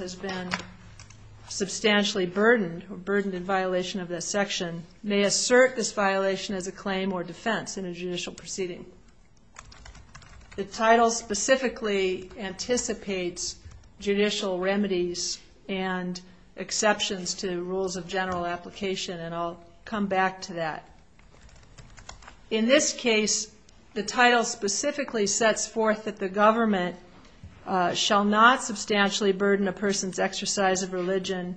has been substantially burdened or burdened in violation of this section, may assert this violation as a claim or defense in a judicial proceeding. The title specifically anticipates judicial remedies and exceptions to rules of general application, and I'll come back to that. In this case, the title specifically sets forth that the government shall not substantially burden a person's exercise of religion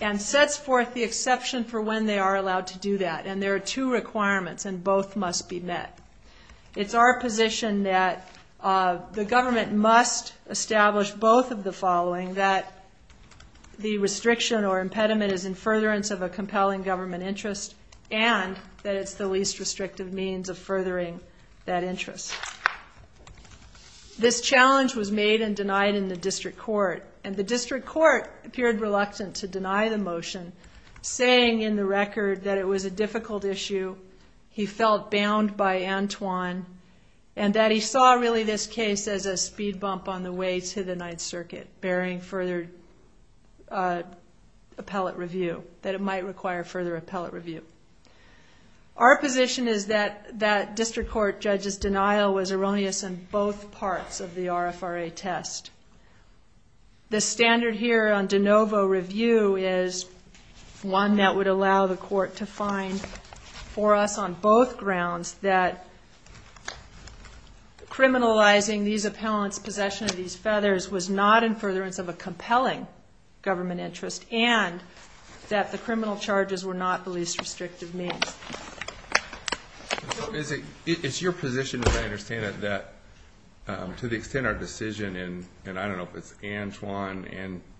and sets forth the exception for when they are allowed to do that, and there are two requirements, and both must be met. It's our position that the government must establish both of the following, that the restriction or impediment is in furtherance of a compelling government interest and that it's the least restrictive means of furthering that interest. This challenge was made and denied in the district court, and the district court appeared reluctant to deny the motion, saying in the record that it was a difficult issue, he felt bound by Antoine, and that he saw really this case as a speed bump on the way to the Ninth Circuit, bearing further appellate review, that it might require further appellate review. Our position is that district court judges' denial was erroneous in both parts of the RFRA test. The standard here on de novo review is one that would allow the court to find for us, on both grounds, that criminalizing these appellants' possession of these feathers was not in furtherance of a compelling government interest and that the criminal charges were not the least restrictive means. It's your position, as I understand it, that to the extent our decision in, and I don't know if it's Antoine,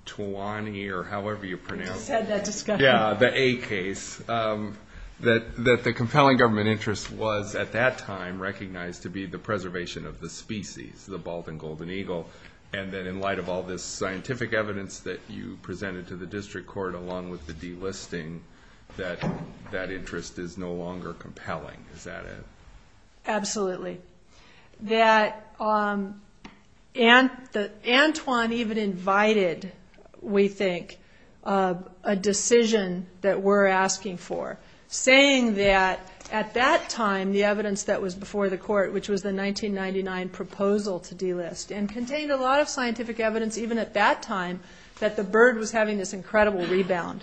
Antoine or however you pronounce it. I just had that discussion. Yeah, the A case, that the compelling government interest was at that time recognized to be the preservation of the species, the bald and golden eagle, and that in light of all this scientific evidence that you presented to the district court, along with the delisting, that that interest is no longer compelling. Is that it? Absolutely. Antoine even invited, we think, a decision that we're asking for, saying that at that time the evidence that was before the court, which was the 1999 proposal to delist, and contained a lot of scientific evidence even at that time that the bird was having this incredible rebound.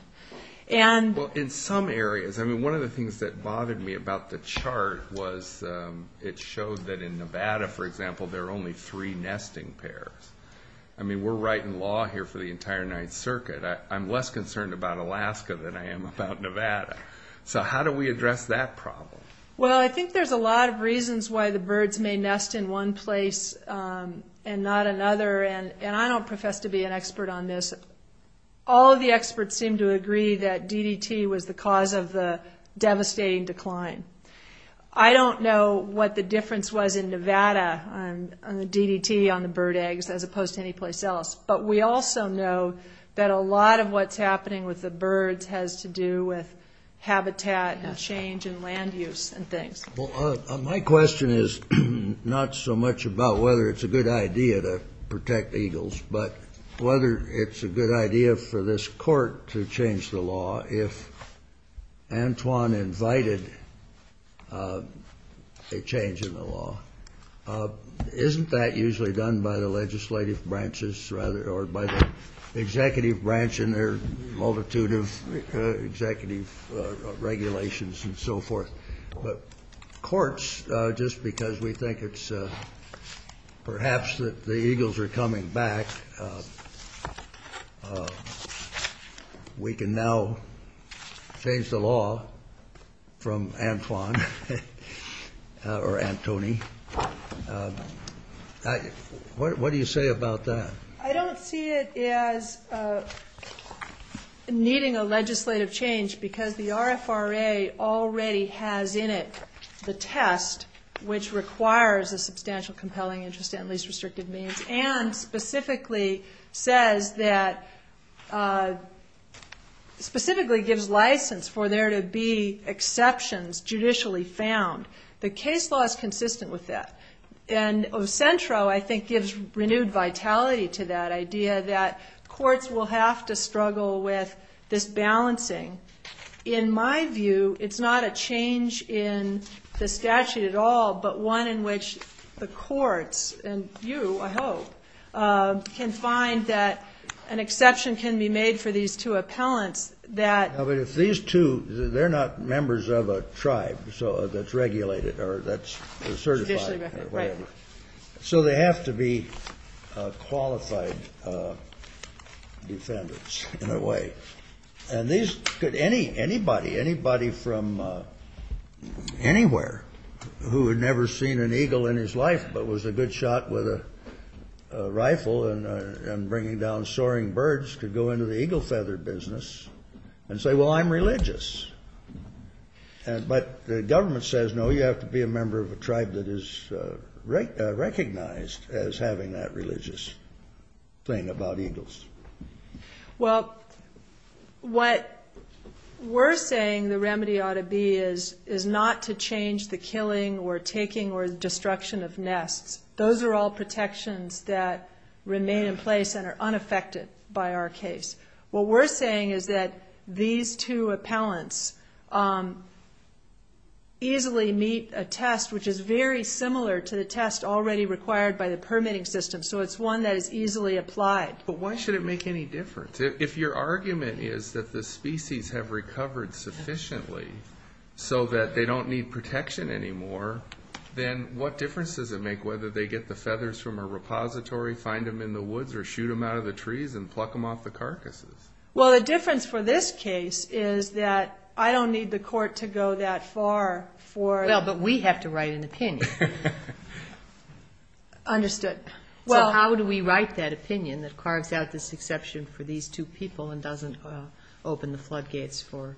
Well, in some areas. I mean, one of the things that bothered me about the chart was it showed that in Nevada, for example, there are only three nesting pairs. I mean, we're writing law here for the entire Ninth Circuit. I'm less concerned about Alaska than I am about Nevada. So how do we address that problem? Well, I think there's a lot of reasons why the birds may nest in one place and not another, and I don't profess to be an expert on this. All of the experts seem to agree that DDT was the cause of the devastating decline. I don't know what the difference was in Nevada on the DDT on the bird eggs as opposed to anyplace else, but we also know that a lot of what's happening with the birds has to do with habitat and change and land use and things. Well, my question is not so much about whether it's a good idea to protect eagles, but whether it's a good idea for this court to change the law if Antoine invited a change in the law. Isn't that usually done by the legislative branches, rather, or by the executive branch and their multitude of executive regulations and so forth? But courts, just because we think it's perhaps that the eagles are coming back, we can now change the law from Antoine or Antony. What do you say about that? I don't see it as needing a legislative change because the RFRA already has in it the test, which requires a substantial compelling interest in least restrictive means and specifically gives license for there to be exceptions judicially found. The case law is consistent with that. And Ocentro, I think, gives renewed vitality to that idea that courts will have to struggle with this balancing. In my view, it's not a change in the statute at all, but one in which the courts and you, I hope, can find that an exception can be made for these two appellants. But if these two, they're not members of a tribe that's regulated or that's certified or whatever, so they have to be qualified defendants in a way. And these could anybody, anybody from anywhere who had never seen an eagle in his life but was a good shot with a rifle and bringing down soaring birds could go into the eagle feather business and say, well, I'm religious. But the government says, no, you have to be a member of a tribe that is recognized as having that religious thing about eagles. Well, what we're saying the remedy ought to be is not to change the killing or taking or destruction of nests. Those are all protections that remain in place and are unaffected by our case. What we're saying is that these two appellants easily meet a test which is very similar to the test already required by the permitting system. So it's one that is easily applied. But why should it make any difference? If your argument is that the species have recovered sufficiently so that they don't need protection anymore, then what difference does it make whether they get the feathers from a repository, find them in the woods, or shoot them out of the trees and pluck them off the carcasses? Well, the difference for this case is that I don't need the court to go that far for it. Well, but we have to write an opinion. Understood. So how do we write that opinion that carves out this exception for these two people and doesn't open the floodgates for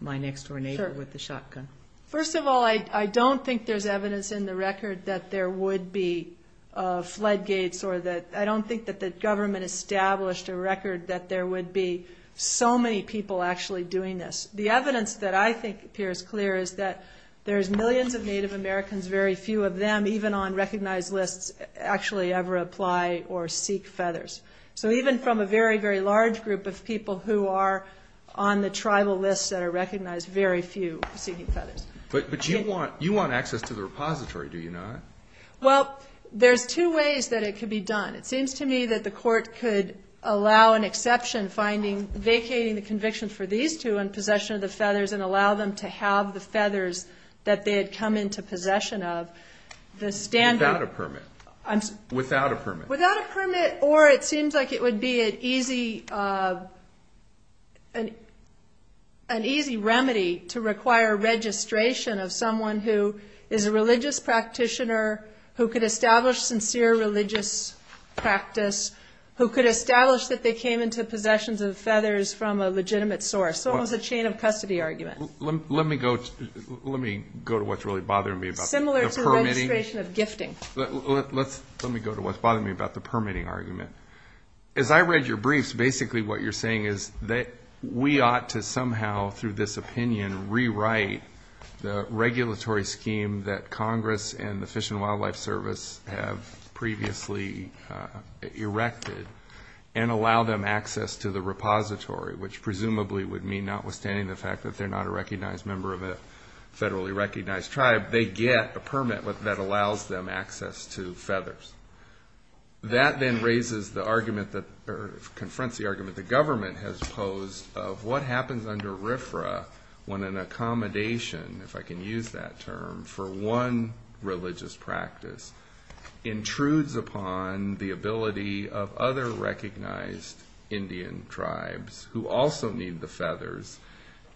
my next-door neighbor with the shotgun? First of all, I don't think there's evidence in the record that there would be floodgates or that I don't think that the government established a record that there would be so many people actually doing this. The evidence that I think appears clear is that there's millions of Native Americans, very few of them, even on recognized lists, actually ever apply or seek feathers. So even from a very, very large group of people who are on the tribal list that are recognized, very few are seeking feathers. But you want access to the repository, do you not? Well, there's two ways that it could be done. It seems to me that the court could allow an exception finding vacating the conviction for these two and allow them to have the feathers that they had come into possession of. Without a permit. Without a permit. Without a permit, or it seems like it would be an easy remedy to require registration of someone who is a religious practitioner, who could establish sincere religious practice, who could establish that they came into possessions of feathers from a legitimate source. So it was a chain of custody argument. Let me go to what's really bothering me about the permitting. Similar to registration of gifting. Let me go to what's bothering me about the permitting argument. As I read your briefs, basically what you're saying is that we ought to somehow, through this opinion, rewrite the regulatory scheme that Congress and the Fish and Wildlife Service have previously erected and allow them access to the repository, which presumably would mean notwithstanding the fact that they're not a recognized member of a federally recognized tribe, they get a permit that allows them access to feathers. That then raises the argument, or confronts the argument the government has posed of what happens under RFRA when an accommodation, if I can use that term, for one religious practice intrudes upon the ability of other recognized Indian tribes who also need the feathers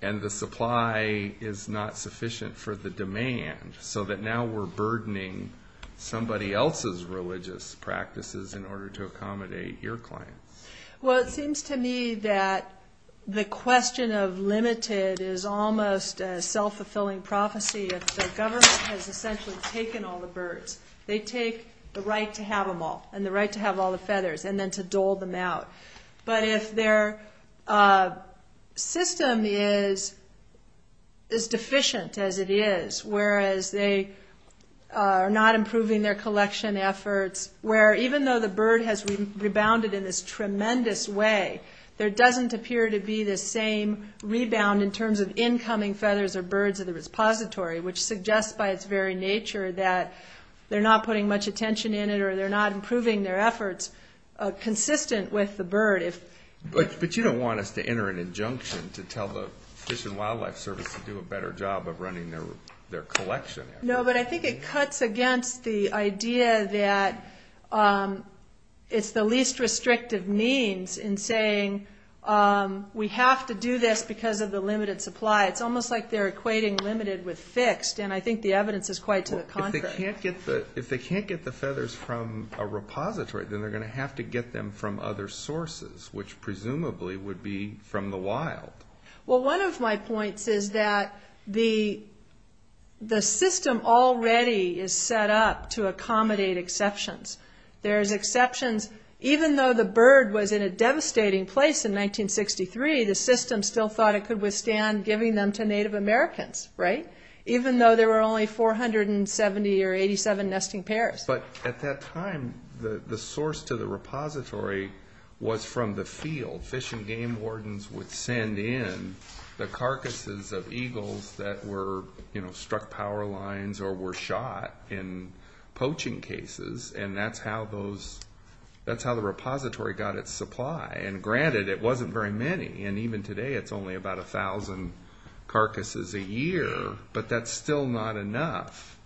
and the supply is not sufficient for the demand, so that now we're burdening somebody else's religious practices in order to accommodate your clients. Well, it seems to me that the question of limited is almost a self-fulfilling prophecy. If the government has essentially taken all the birds, they take the right to have them all, and the right to have all the feathers, and then to dole them out. But if their system is as deficient as it is, whereas they are not improving their collection efforts, where even though the bird has rebounded in this tremendous way, there doesn't appear to be the same rebound in terms of incoming feathers or birds of the repository, which suggests by its very nature that they're not putting much attention in it or they're not improving their efforts consistent with the bird. But you don't want us to enter an injunction to tell the Fish and Wildlife Service to do a better job of running their collection efforts. No, but I think it cuts against the idea that it's the least restrictive means in saying we have to do this because of the limited supply. It's almost like they're equating limited with fixed, and I think the evidence is quite to the contrary. If they can't get the feathers from a repository, then they're going to have to get them from other sources, which presumably would be from the wild. Well, one of my points is that the system already is set up to accommodate exceptions. There's exceptions. Even though the bird was in a devastating place in 1963, the system still thought it could withstand giving them to Native Americans, right? But at that time, the source to the repository was from the field. Fish and Game Wardens would send in the carcasses of eagles that were struck power lines or were shot in poaching cases, and that's how the repository got its supply. And granted, it wasn't very many, and even today it's only about 1,000 carcasses a year, but that's still not enough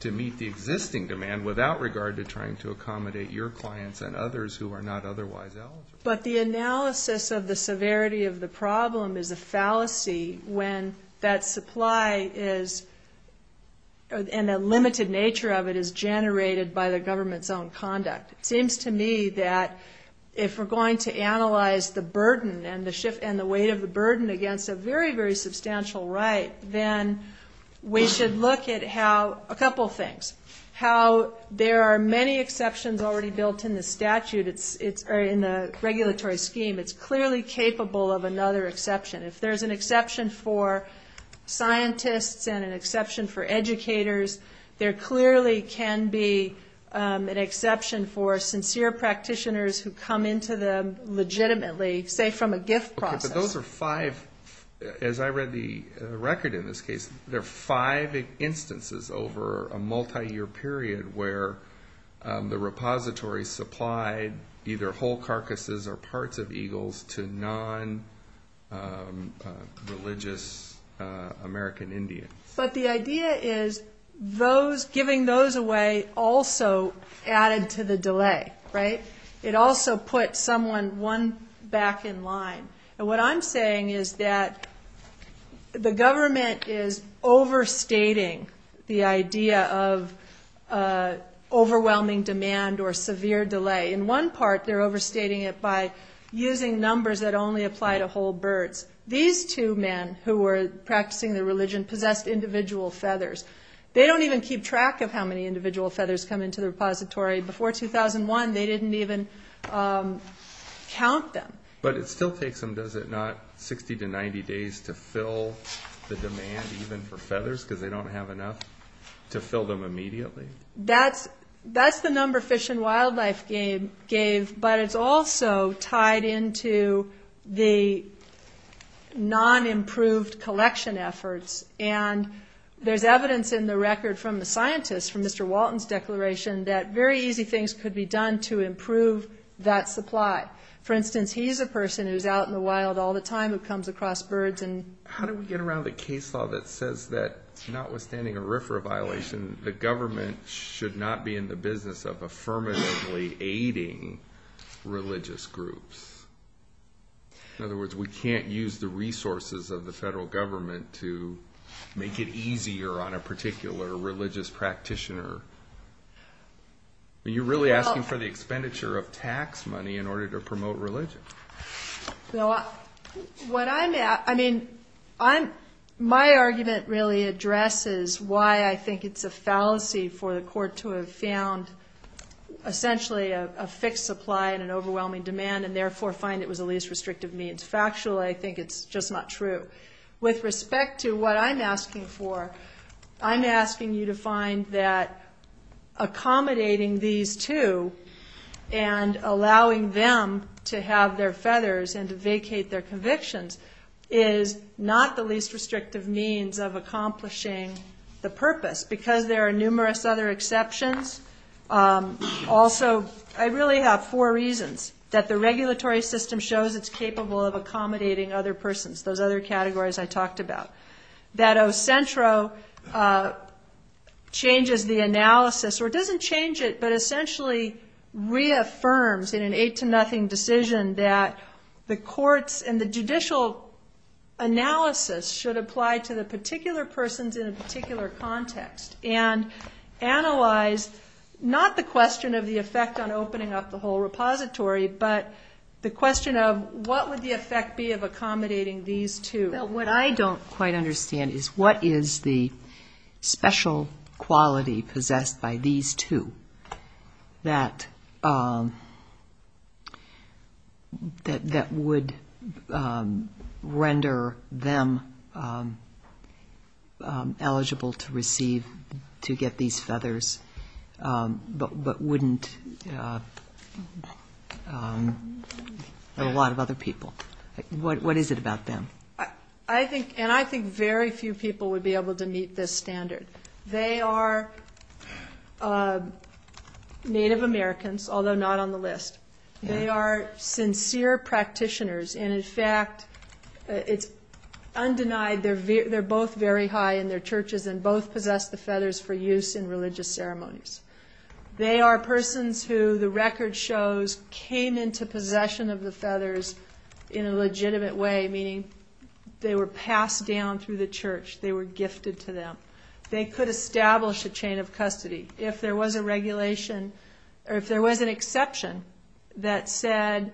to meet the existing demand without regard to trying to accommodate your clients and others who are not otherwise eligible. But the analysis of the severity of the problem is a fallacy when that supply and the limited nature of it is generated by the government's own conduct. It seems to me that if we're going to analyze the burden and the weight of the burden against a very, very substantial right, then we should look at how a couple things. How there are many exceptions already built in the statute or in the regulatory scheme. It's clearly capable of another exception. If there's an exception for scientists and an exception for educators, there clearly can be an exception for sincere practitioners who come into them legitimately, say from a gift process. Those are five, as I read the record in this case, there are five instances over a multi-year period where the repository supplied either whole carcasses or parts of eagles to non-religious American Indians. But the idea is giving those away also added to the delay, right? It also put someone one back in line. And what I'm saying is that the government is overstating the idea of overwhelming demand or severe delay. In one part, they're overstating it by using numbers that only apply to whole birds. These two men who were practicing their religion possessed individual feathers. They don't even keep track of how many individual feathers come into the repository. Before 2001, they didn't even count them. But it still takes them, does it not, 60 to 90 days to fill the demand even for feathers because they don't have enough to fill them immediately? That's the number Fish and Wildlife gave, but it's also tied into the non-improved collection efforts. And there's evidence in the record from the scientists from Mr. Walton's declaration that very easy things could be done to improve that supply. For instance, he's a person who's out in the wild all the time who comes across birds. How do we get around the case law that says that notwithstanding a RFRA violation, the government should not be in the business of affirmatively aiding religious groups? In other words, we can't use the resources of the federal government to make it easier on a particular religious practitioner. Are you really asking for the expenditure of tax money in order to promote religion? My argument really addresses why I think it's a fallacy for the court to have found essentially a fixed supply and an overwhelming demand and therefore find it was the least restrictive means. Factually, I think it's just not true. With respect to what I'm asking for, I'm asking you to find that accommodating these two and allowing them to have their feathers and to vacate their convictions is not the least restrictive means of accomplishing the purpose because there are numerous other exceptions. Also, I really have four reasons that the regulatory system shows it's capable of accommodating other persons, those other categories I talked about. That Ocentro changes the analysis or doesn't change it but essentially reaffirms in an 8 to nothing decision that the courts and the judicial analysis should apply to the particular persons in a particular context and analyze not the question of the effect on opening up the whole repository but the question of what would the effect be of accommodating these two. What I don't quite understand is what is the special quality possessed by these two that would render them eligible to receive, to get these feathers but wouldn't a lot of other people. What is it about them? I think very few people would be able to meet this standard. They are Native Americans, although not on the list. They are sincere practitioners. In fact, it's undenied they're both very high in their churches and both possess the feathers for use in religious ceremonies. They are persons who the record shows came into possession of the feathers in a legitimate way, meaning they were passed down through the church. They were gifted to them. They could establish a chain of custody. If there was a regulation or if there was an exception that said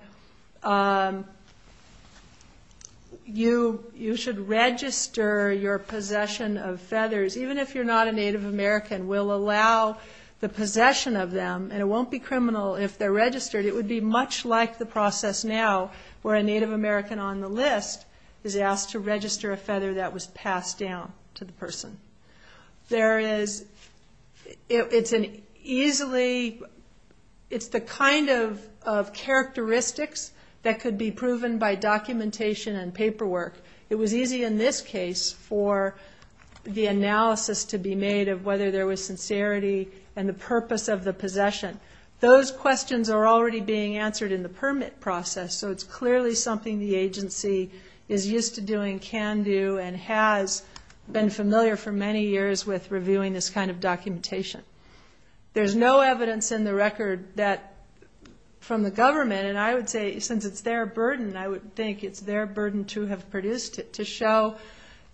you should register your possession of feathers, even if you're not a Native American, we'll allow the possession of them and it won't be criminal if they're registered. It would be much like the process now where a Native American on the list is asked to register a feather that was passed down to the person. It's the kind of characteristics that could be proven by documentation and paperwork. It was easy in this case for the analysis to be made of whether there was sincerity and the purpose of the possession. Those questions are already being answered in the permit process, so it's clearly something the agency is used to doing, can do, and has been familiar for many years with reviewing this kind of documentation. There's no evidence in the record from the government, and I would say since it's their burden, I would think it's their burden to have produced it to show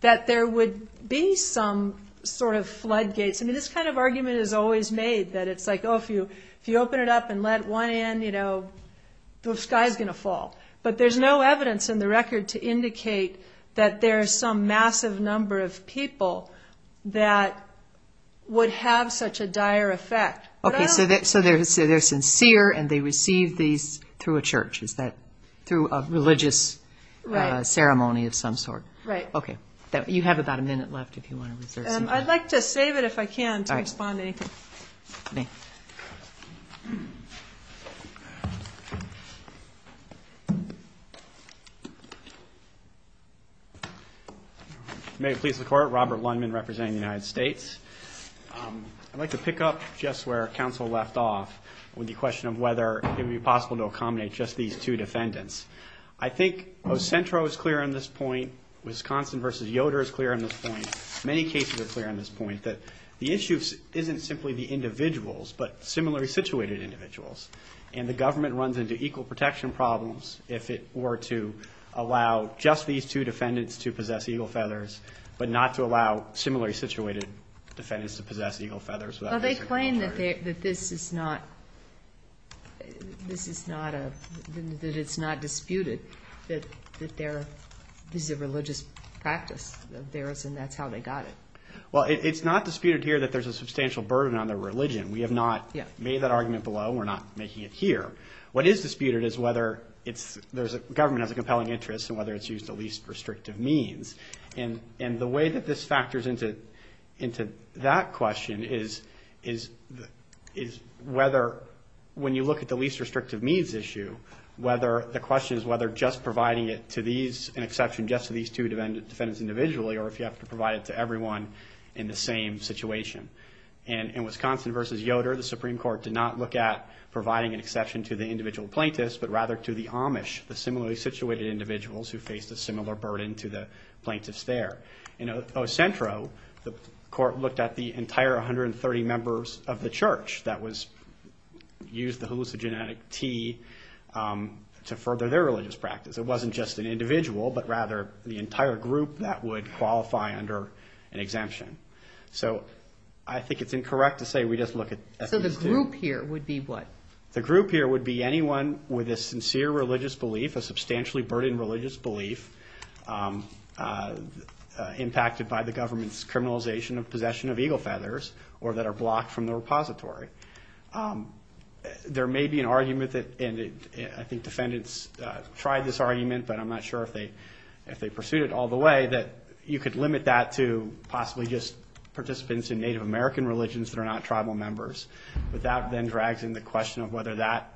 that there would be some sort of floodgates. I mean, this kind of argument is always made that it's like, oh, if you open it up and let one in, the sky's going to fall. But there's no evidence in the record to indicate that there's some massive number of people that would have such a dire effect. Okay, so they're sincere and they receive these through a church, is that through a religious ceremony of some sort? Right. Okay. You have about a minute left if you want to reserve some time. I'd like to save it if I can to respond to anything. Okay. May it please the Court, Robert Lundman representing the United States. I'd like to pick up just where counsel left off with the question of whether it would be possible to accommodate just these two defendants. I think Ocentro is clear on this point, Wisconsin v. Yoder is clear on this point, many cases are clear on this point, that the issue isn't simply the individuals but similarly situated individuals. And the government runs into equal protection problems if it were to allow just these two defendants to possess eagle feathers, but not to allow similarly situated defendants to possess eagle feathers. Well, they claim that this is not disputed, that this is a religious practice of theirs and that's how they got it. Well, it's not disputed here that there's a substantial burden on their religion. We have not made that argument below. We're not making it here. What is disputed is whether there's a government has a compelling interest and whether it's used the least restrictive means. And the way that this factors into that question is whether when you look at the least restrictive means issue, whether the question is whether just providing it to these, an exception just to these two defendants individually or if you have to provide it to everyone in the same situation. In Wisconsin v. Yoder, the Supreme Court did not look at providing an exception to the individual plaintiffs but rather to the Amish, the similarly situated individuals who faced a similar burden to the plaintiffs there. In Ocentro, the court looked at the entire 130 members of the church that used the hallucinogenic tea to further their religious practice. It wasn't just an individual but rather the entire group that would qualify under an exemption. So I think it's incorrect to say we just look at these two. So the group here would be what? The group here would be anyone with a sincere religious belief, a substantially burdened religious belief, impacted by the government's criminalization of possession of eagle feathers or that are blocked from the repository. There may be an argument that, and I think defendants tried this argument, but I'm not sure if they pursued it all the way, that you could limit that to possibly just participants in Native American religions that are not tribal members. But that then drags in the question of whether that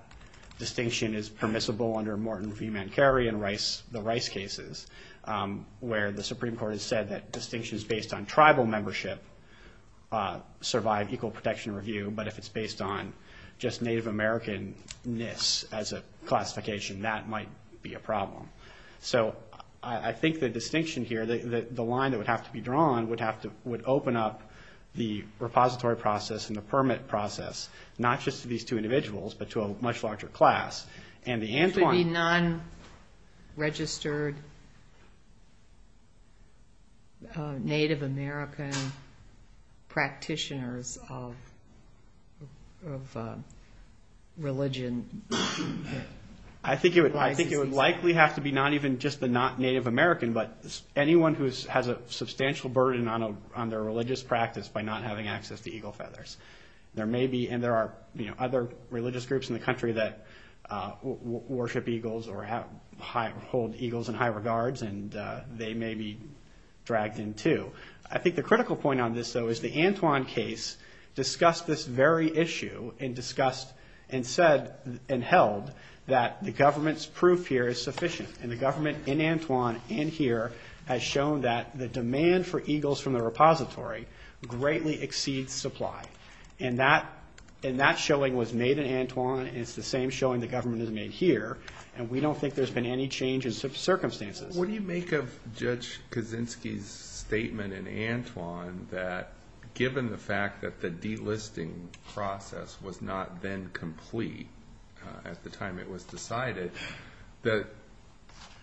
distinction is permissible under Morton v. Mancari and the Rice cases, where the Supreme Court has said that distinctions based on tribal membership survive equal protection review, but if it's based on just Native American-ness as a classification, that might be a problem. So I think the distinction here, the line that would have to be drawn, would open up the repository process and the permit process, not just to these two individuals but to a much larger class. There should be non-registered Native American practitioners of religion. I think it would likely have to be not even just the not Native American, but anyone who has a substantial burden on their religious practice by not having access to eagle feathers. And there are other religious groups in the country that worship eagles or hold eagles in high regards, and they may be dragged in, too. I think the critical point on this, though, is the Antoine case discussed this very issue and said and held that the government's proof here is sufficient, and the government in Antoine and here has shown that the demand for eagles from the repository greatly exceeds supply. And that showing was made in Antoine, and it's the same showing the government has made here, and we don't think there's been any change in circumstances. What do you make of Judge Kaczynski's statement in Antoine that given the fact that the delisting process was not then complete at the time it was decided, that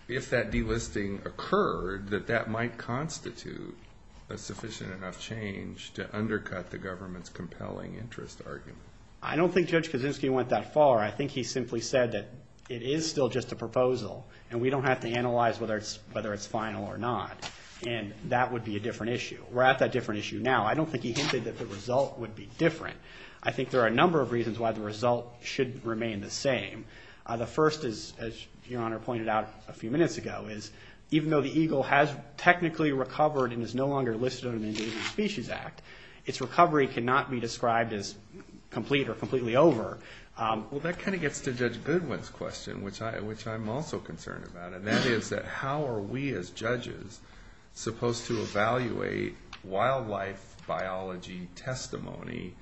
if that delisting occurred, that that might constitute a sufficient enough change to undercut the government's compelling interest argument? I don't think Judge Kaczynski went that far. I think he simply said that it is still just a proposal, and we don't have to analyze whether it's final or not, and that would be a different issue. We're at that different issue now. I don't think he hinted that the result would be different. I think there are a number of reasons why the result should remain the same. The first is, as Your Honor pointed out a few minutes ago, is even though the eagle has technically recovered and is no longer listed under the Endangered Species Act, its recovery cannot be described as complete or completely over. Well, that kind of gets to Judge Goodwin's question, which I'm also concerned about, and that is that how are we as judges supposed to evaluate wildlife biology testimony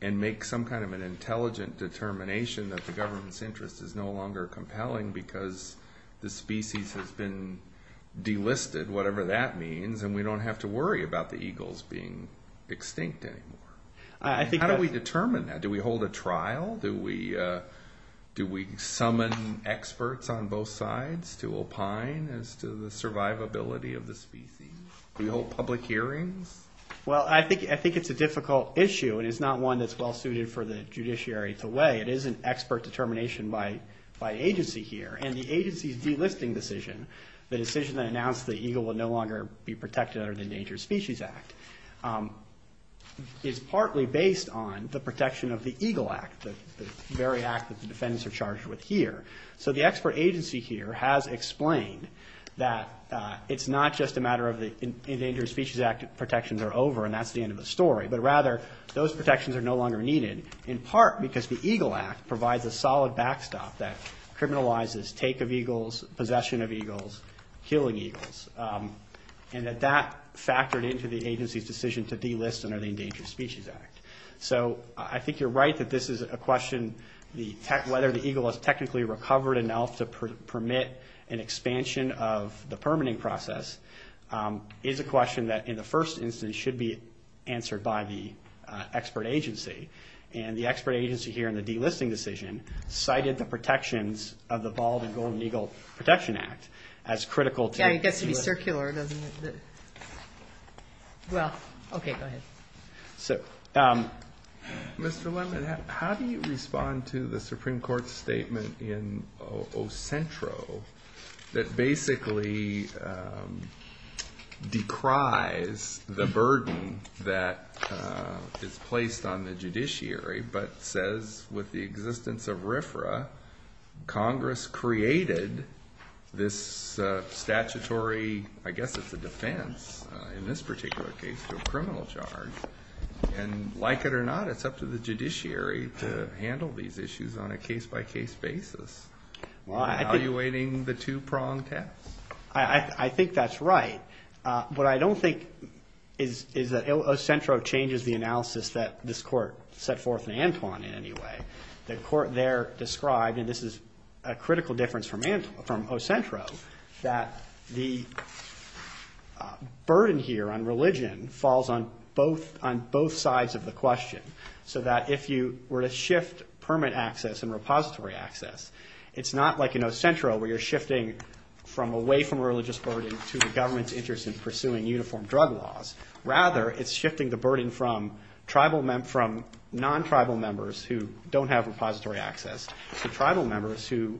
and make some kind of an intelligent determination that the government's interest is no longer compelling because the species has been delisted, whatever that means, and we don't have to worry about the eagles being extinct anymore? How do we determine that? Do we hold a trial? Do we summon experts on both sides to opine as to the survivability of the species? Do we hold public hearings? Well, I think it's a difficult issue, and it's not one that's well-suited for the judiciary to weigh. It is an expert determination by agency here, and the agency's delisting decision, the decision that announced the eagle will no longer be protected under the Endangered Species Act, is partly based on the protection of the Eagle Act, the very act that the defendants are charged with here. So the expert agency here has explained that it's not just a matter of the Endangered Species Act protections are over and that's the end of the story, but rather those protections are no longer needed, in part because the Eagle Act provides a solid backstop that criminalizes take of eagles, possession of eagles, killing eagles, and that that factored into the agency's decision to delist under the Endangered Species Act. So I think you're right that this is a question, whether the eagle has technically recovered enough to permit an expansion of the permitting process, is a question that in the first instance should be answered by the expert agency, and the expert agency here in the delisting decision cited the protections of the Bald and Golden Eagle Protection Act as critical to delisting. Yeah, it gets to be circular, doesn't it? Well, okay, go ahead. Mr. Lemon, how do you respond to the Supreme Court's statement in Ocentro that basically decries the burden that is placed on the judiciary but says with the existence of RFRA, Congress created this statutory, I guess it's a defense in this particular case to a criminal charge, and like it or not, it's up to the judiciary to handle these issues on a case-by-case basis. Are you evaluating the two-prong test? I think that's right. What I don't think is that Ocentro changes the analysis that this Court set forth in Antwon in any way. The Court there described, and this is a critical difference from Ocentro, that the burden here on religion falls on both sides of the question, so that if you were to shift permit access and repository access, it's not like in Ocentro where you're shifting from away from religious burden to the government's interest in pursuing uniform drug laws. Rather, it's shifting the burden from non-tribal members who don't have repository access to tribal members who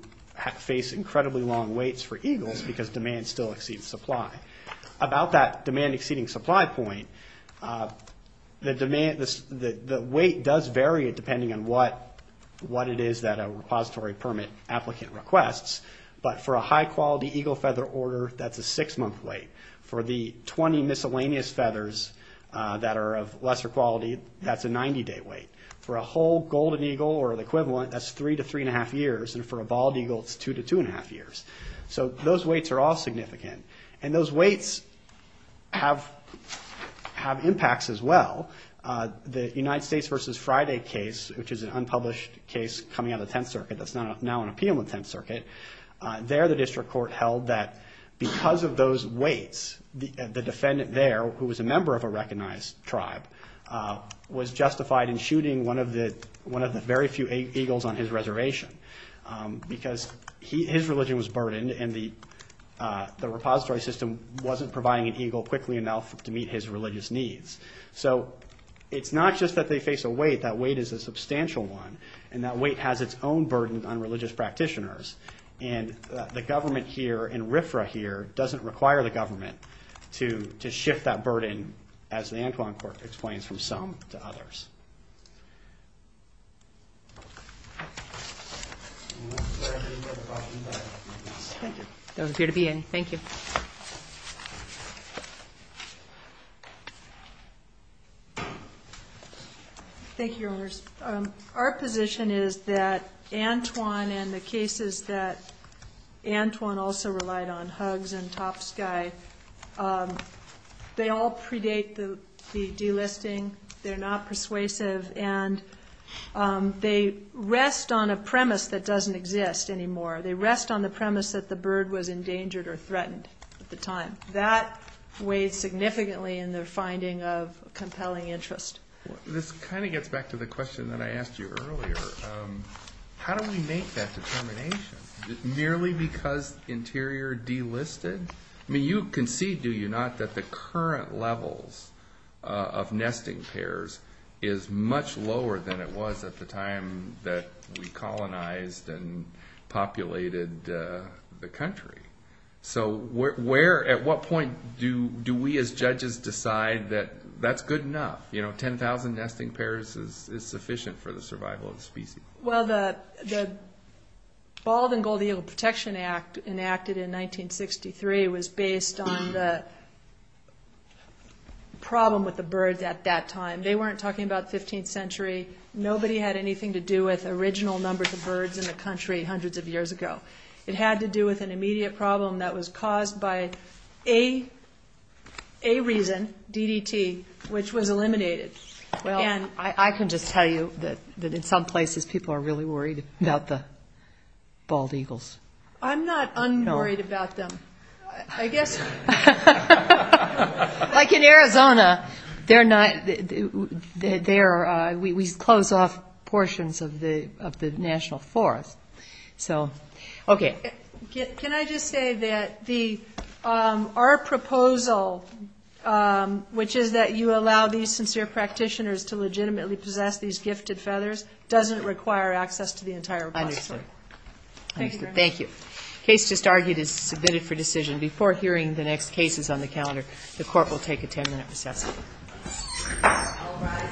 face incredibly long waits for eagles because demand still exceeds supply. About that demand exceeding supply point, the wait does vary depending on what it is that a repository permit applicant requests, but for a high-quality eagle feather order, that's a six-month wait. For the 20 miscellaneous feathers that are of lesser quality, that's a 90-day wait. For a whole golden eagle or the equivalent, that's three to three-and-a-half years, and for a bald eagle, it's two to two-and-a-half years. So those waits are all significant, and those waits have impacts as well. The United States v. Friday case, which is an unpublished case coming out of the Tenth Circuit that's now on appeal in the Tenth Circuit, there the district court held that because of those waits, the defendant there, who was a member of a recognized tribe, was justified in shooting one of the very few eagles on his reservation because his religion was burdened, and the repository system wasn't providing an eagle quickly enough to meet his religious needs. So it's not just that they face a wait. That wait is a substantial one, and that wait has its own burden on religious practitioners, and the government here in RFRA here doesn't require the government to shift that burden, as the Antoine Court explains, from some to others. That was good to be in. Thank you. Thank you, Your Honors. Our position is that Antoine and the cases that Antoine also relied on, Hugs and Top Sky, they all predate the delisting, they're not persuasive, and they rest on a premise that doesn't exist anymore. They rest on the premise that the bird was endangered or threatened at the time. That weighed significantly in their finding of compelling interest. This kind of gets back to the question that I asked you earlier. How do we make that determination? Nearly because interior delisted? I mean, you concede, do you not, that the current levels of nesting pairs is much lower than it was at the time that we colonized and populated the country. So at what point do we as judges decide that that's good enough? You know, 10,000 nesting pairs is sufficient for the survival of the species. Well, the Bald and Gold Eagle Protection Act enacted in 1963 was based on the problem with the birds at that time. They weren't talking about 15th century. Nobody had anything to do with original numbers of birds in the country hundreds of years ago. It had to do with an immediate problem that was caused by a reason, DDT, which was eliminated. I can just tell you that in some places people are really worried about the bald eagles. I'm not un-worried about them. I guess. Like in Arizona, we close off portions of the national forest. Okay. Can I just say that our proposal, which is that you allow these sincere practitioners to legitimately possess these gifted feathers, doesn't require access to the entire repository. Understood. Thank you very much. The case just argued is submitted for decision. Before hearing the next cases on the calendar, the court will take a 10-minute recess. All rise. This court is now at a 10-minute recess.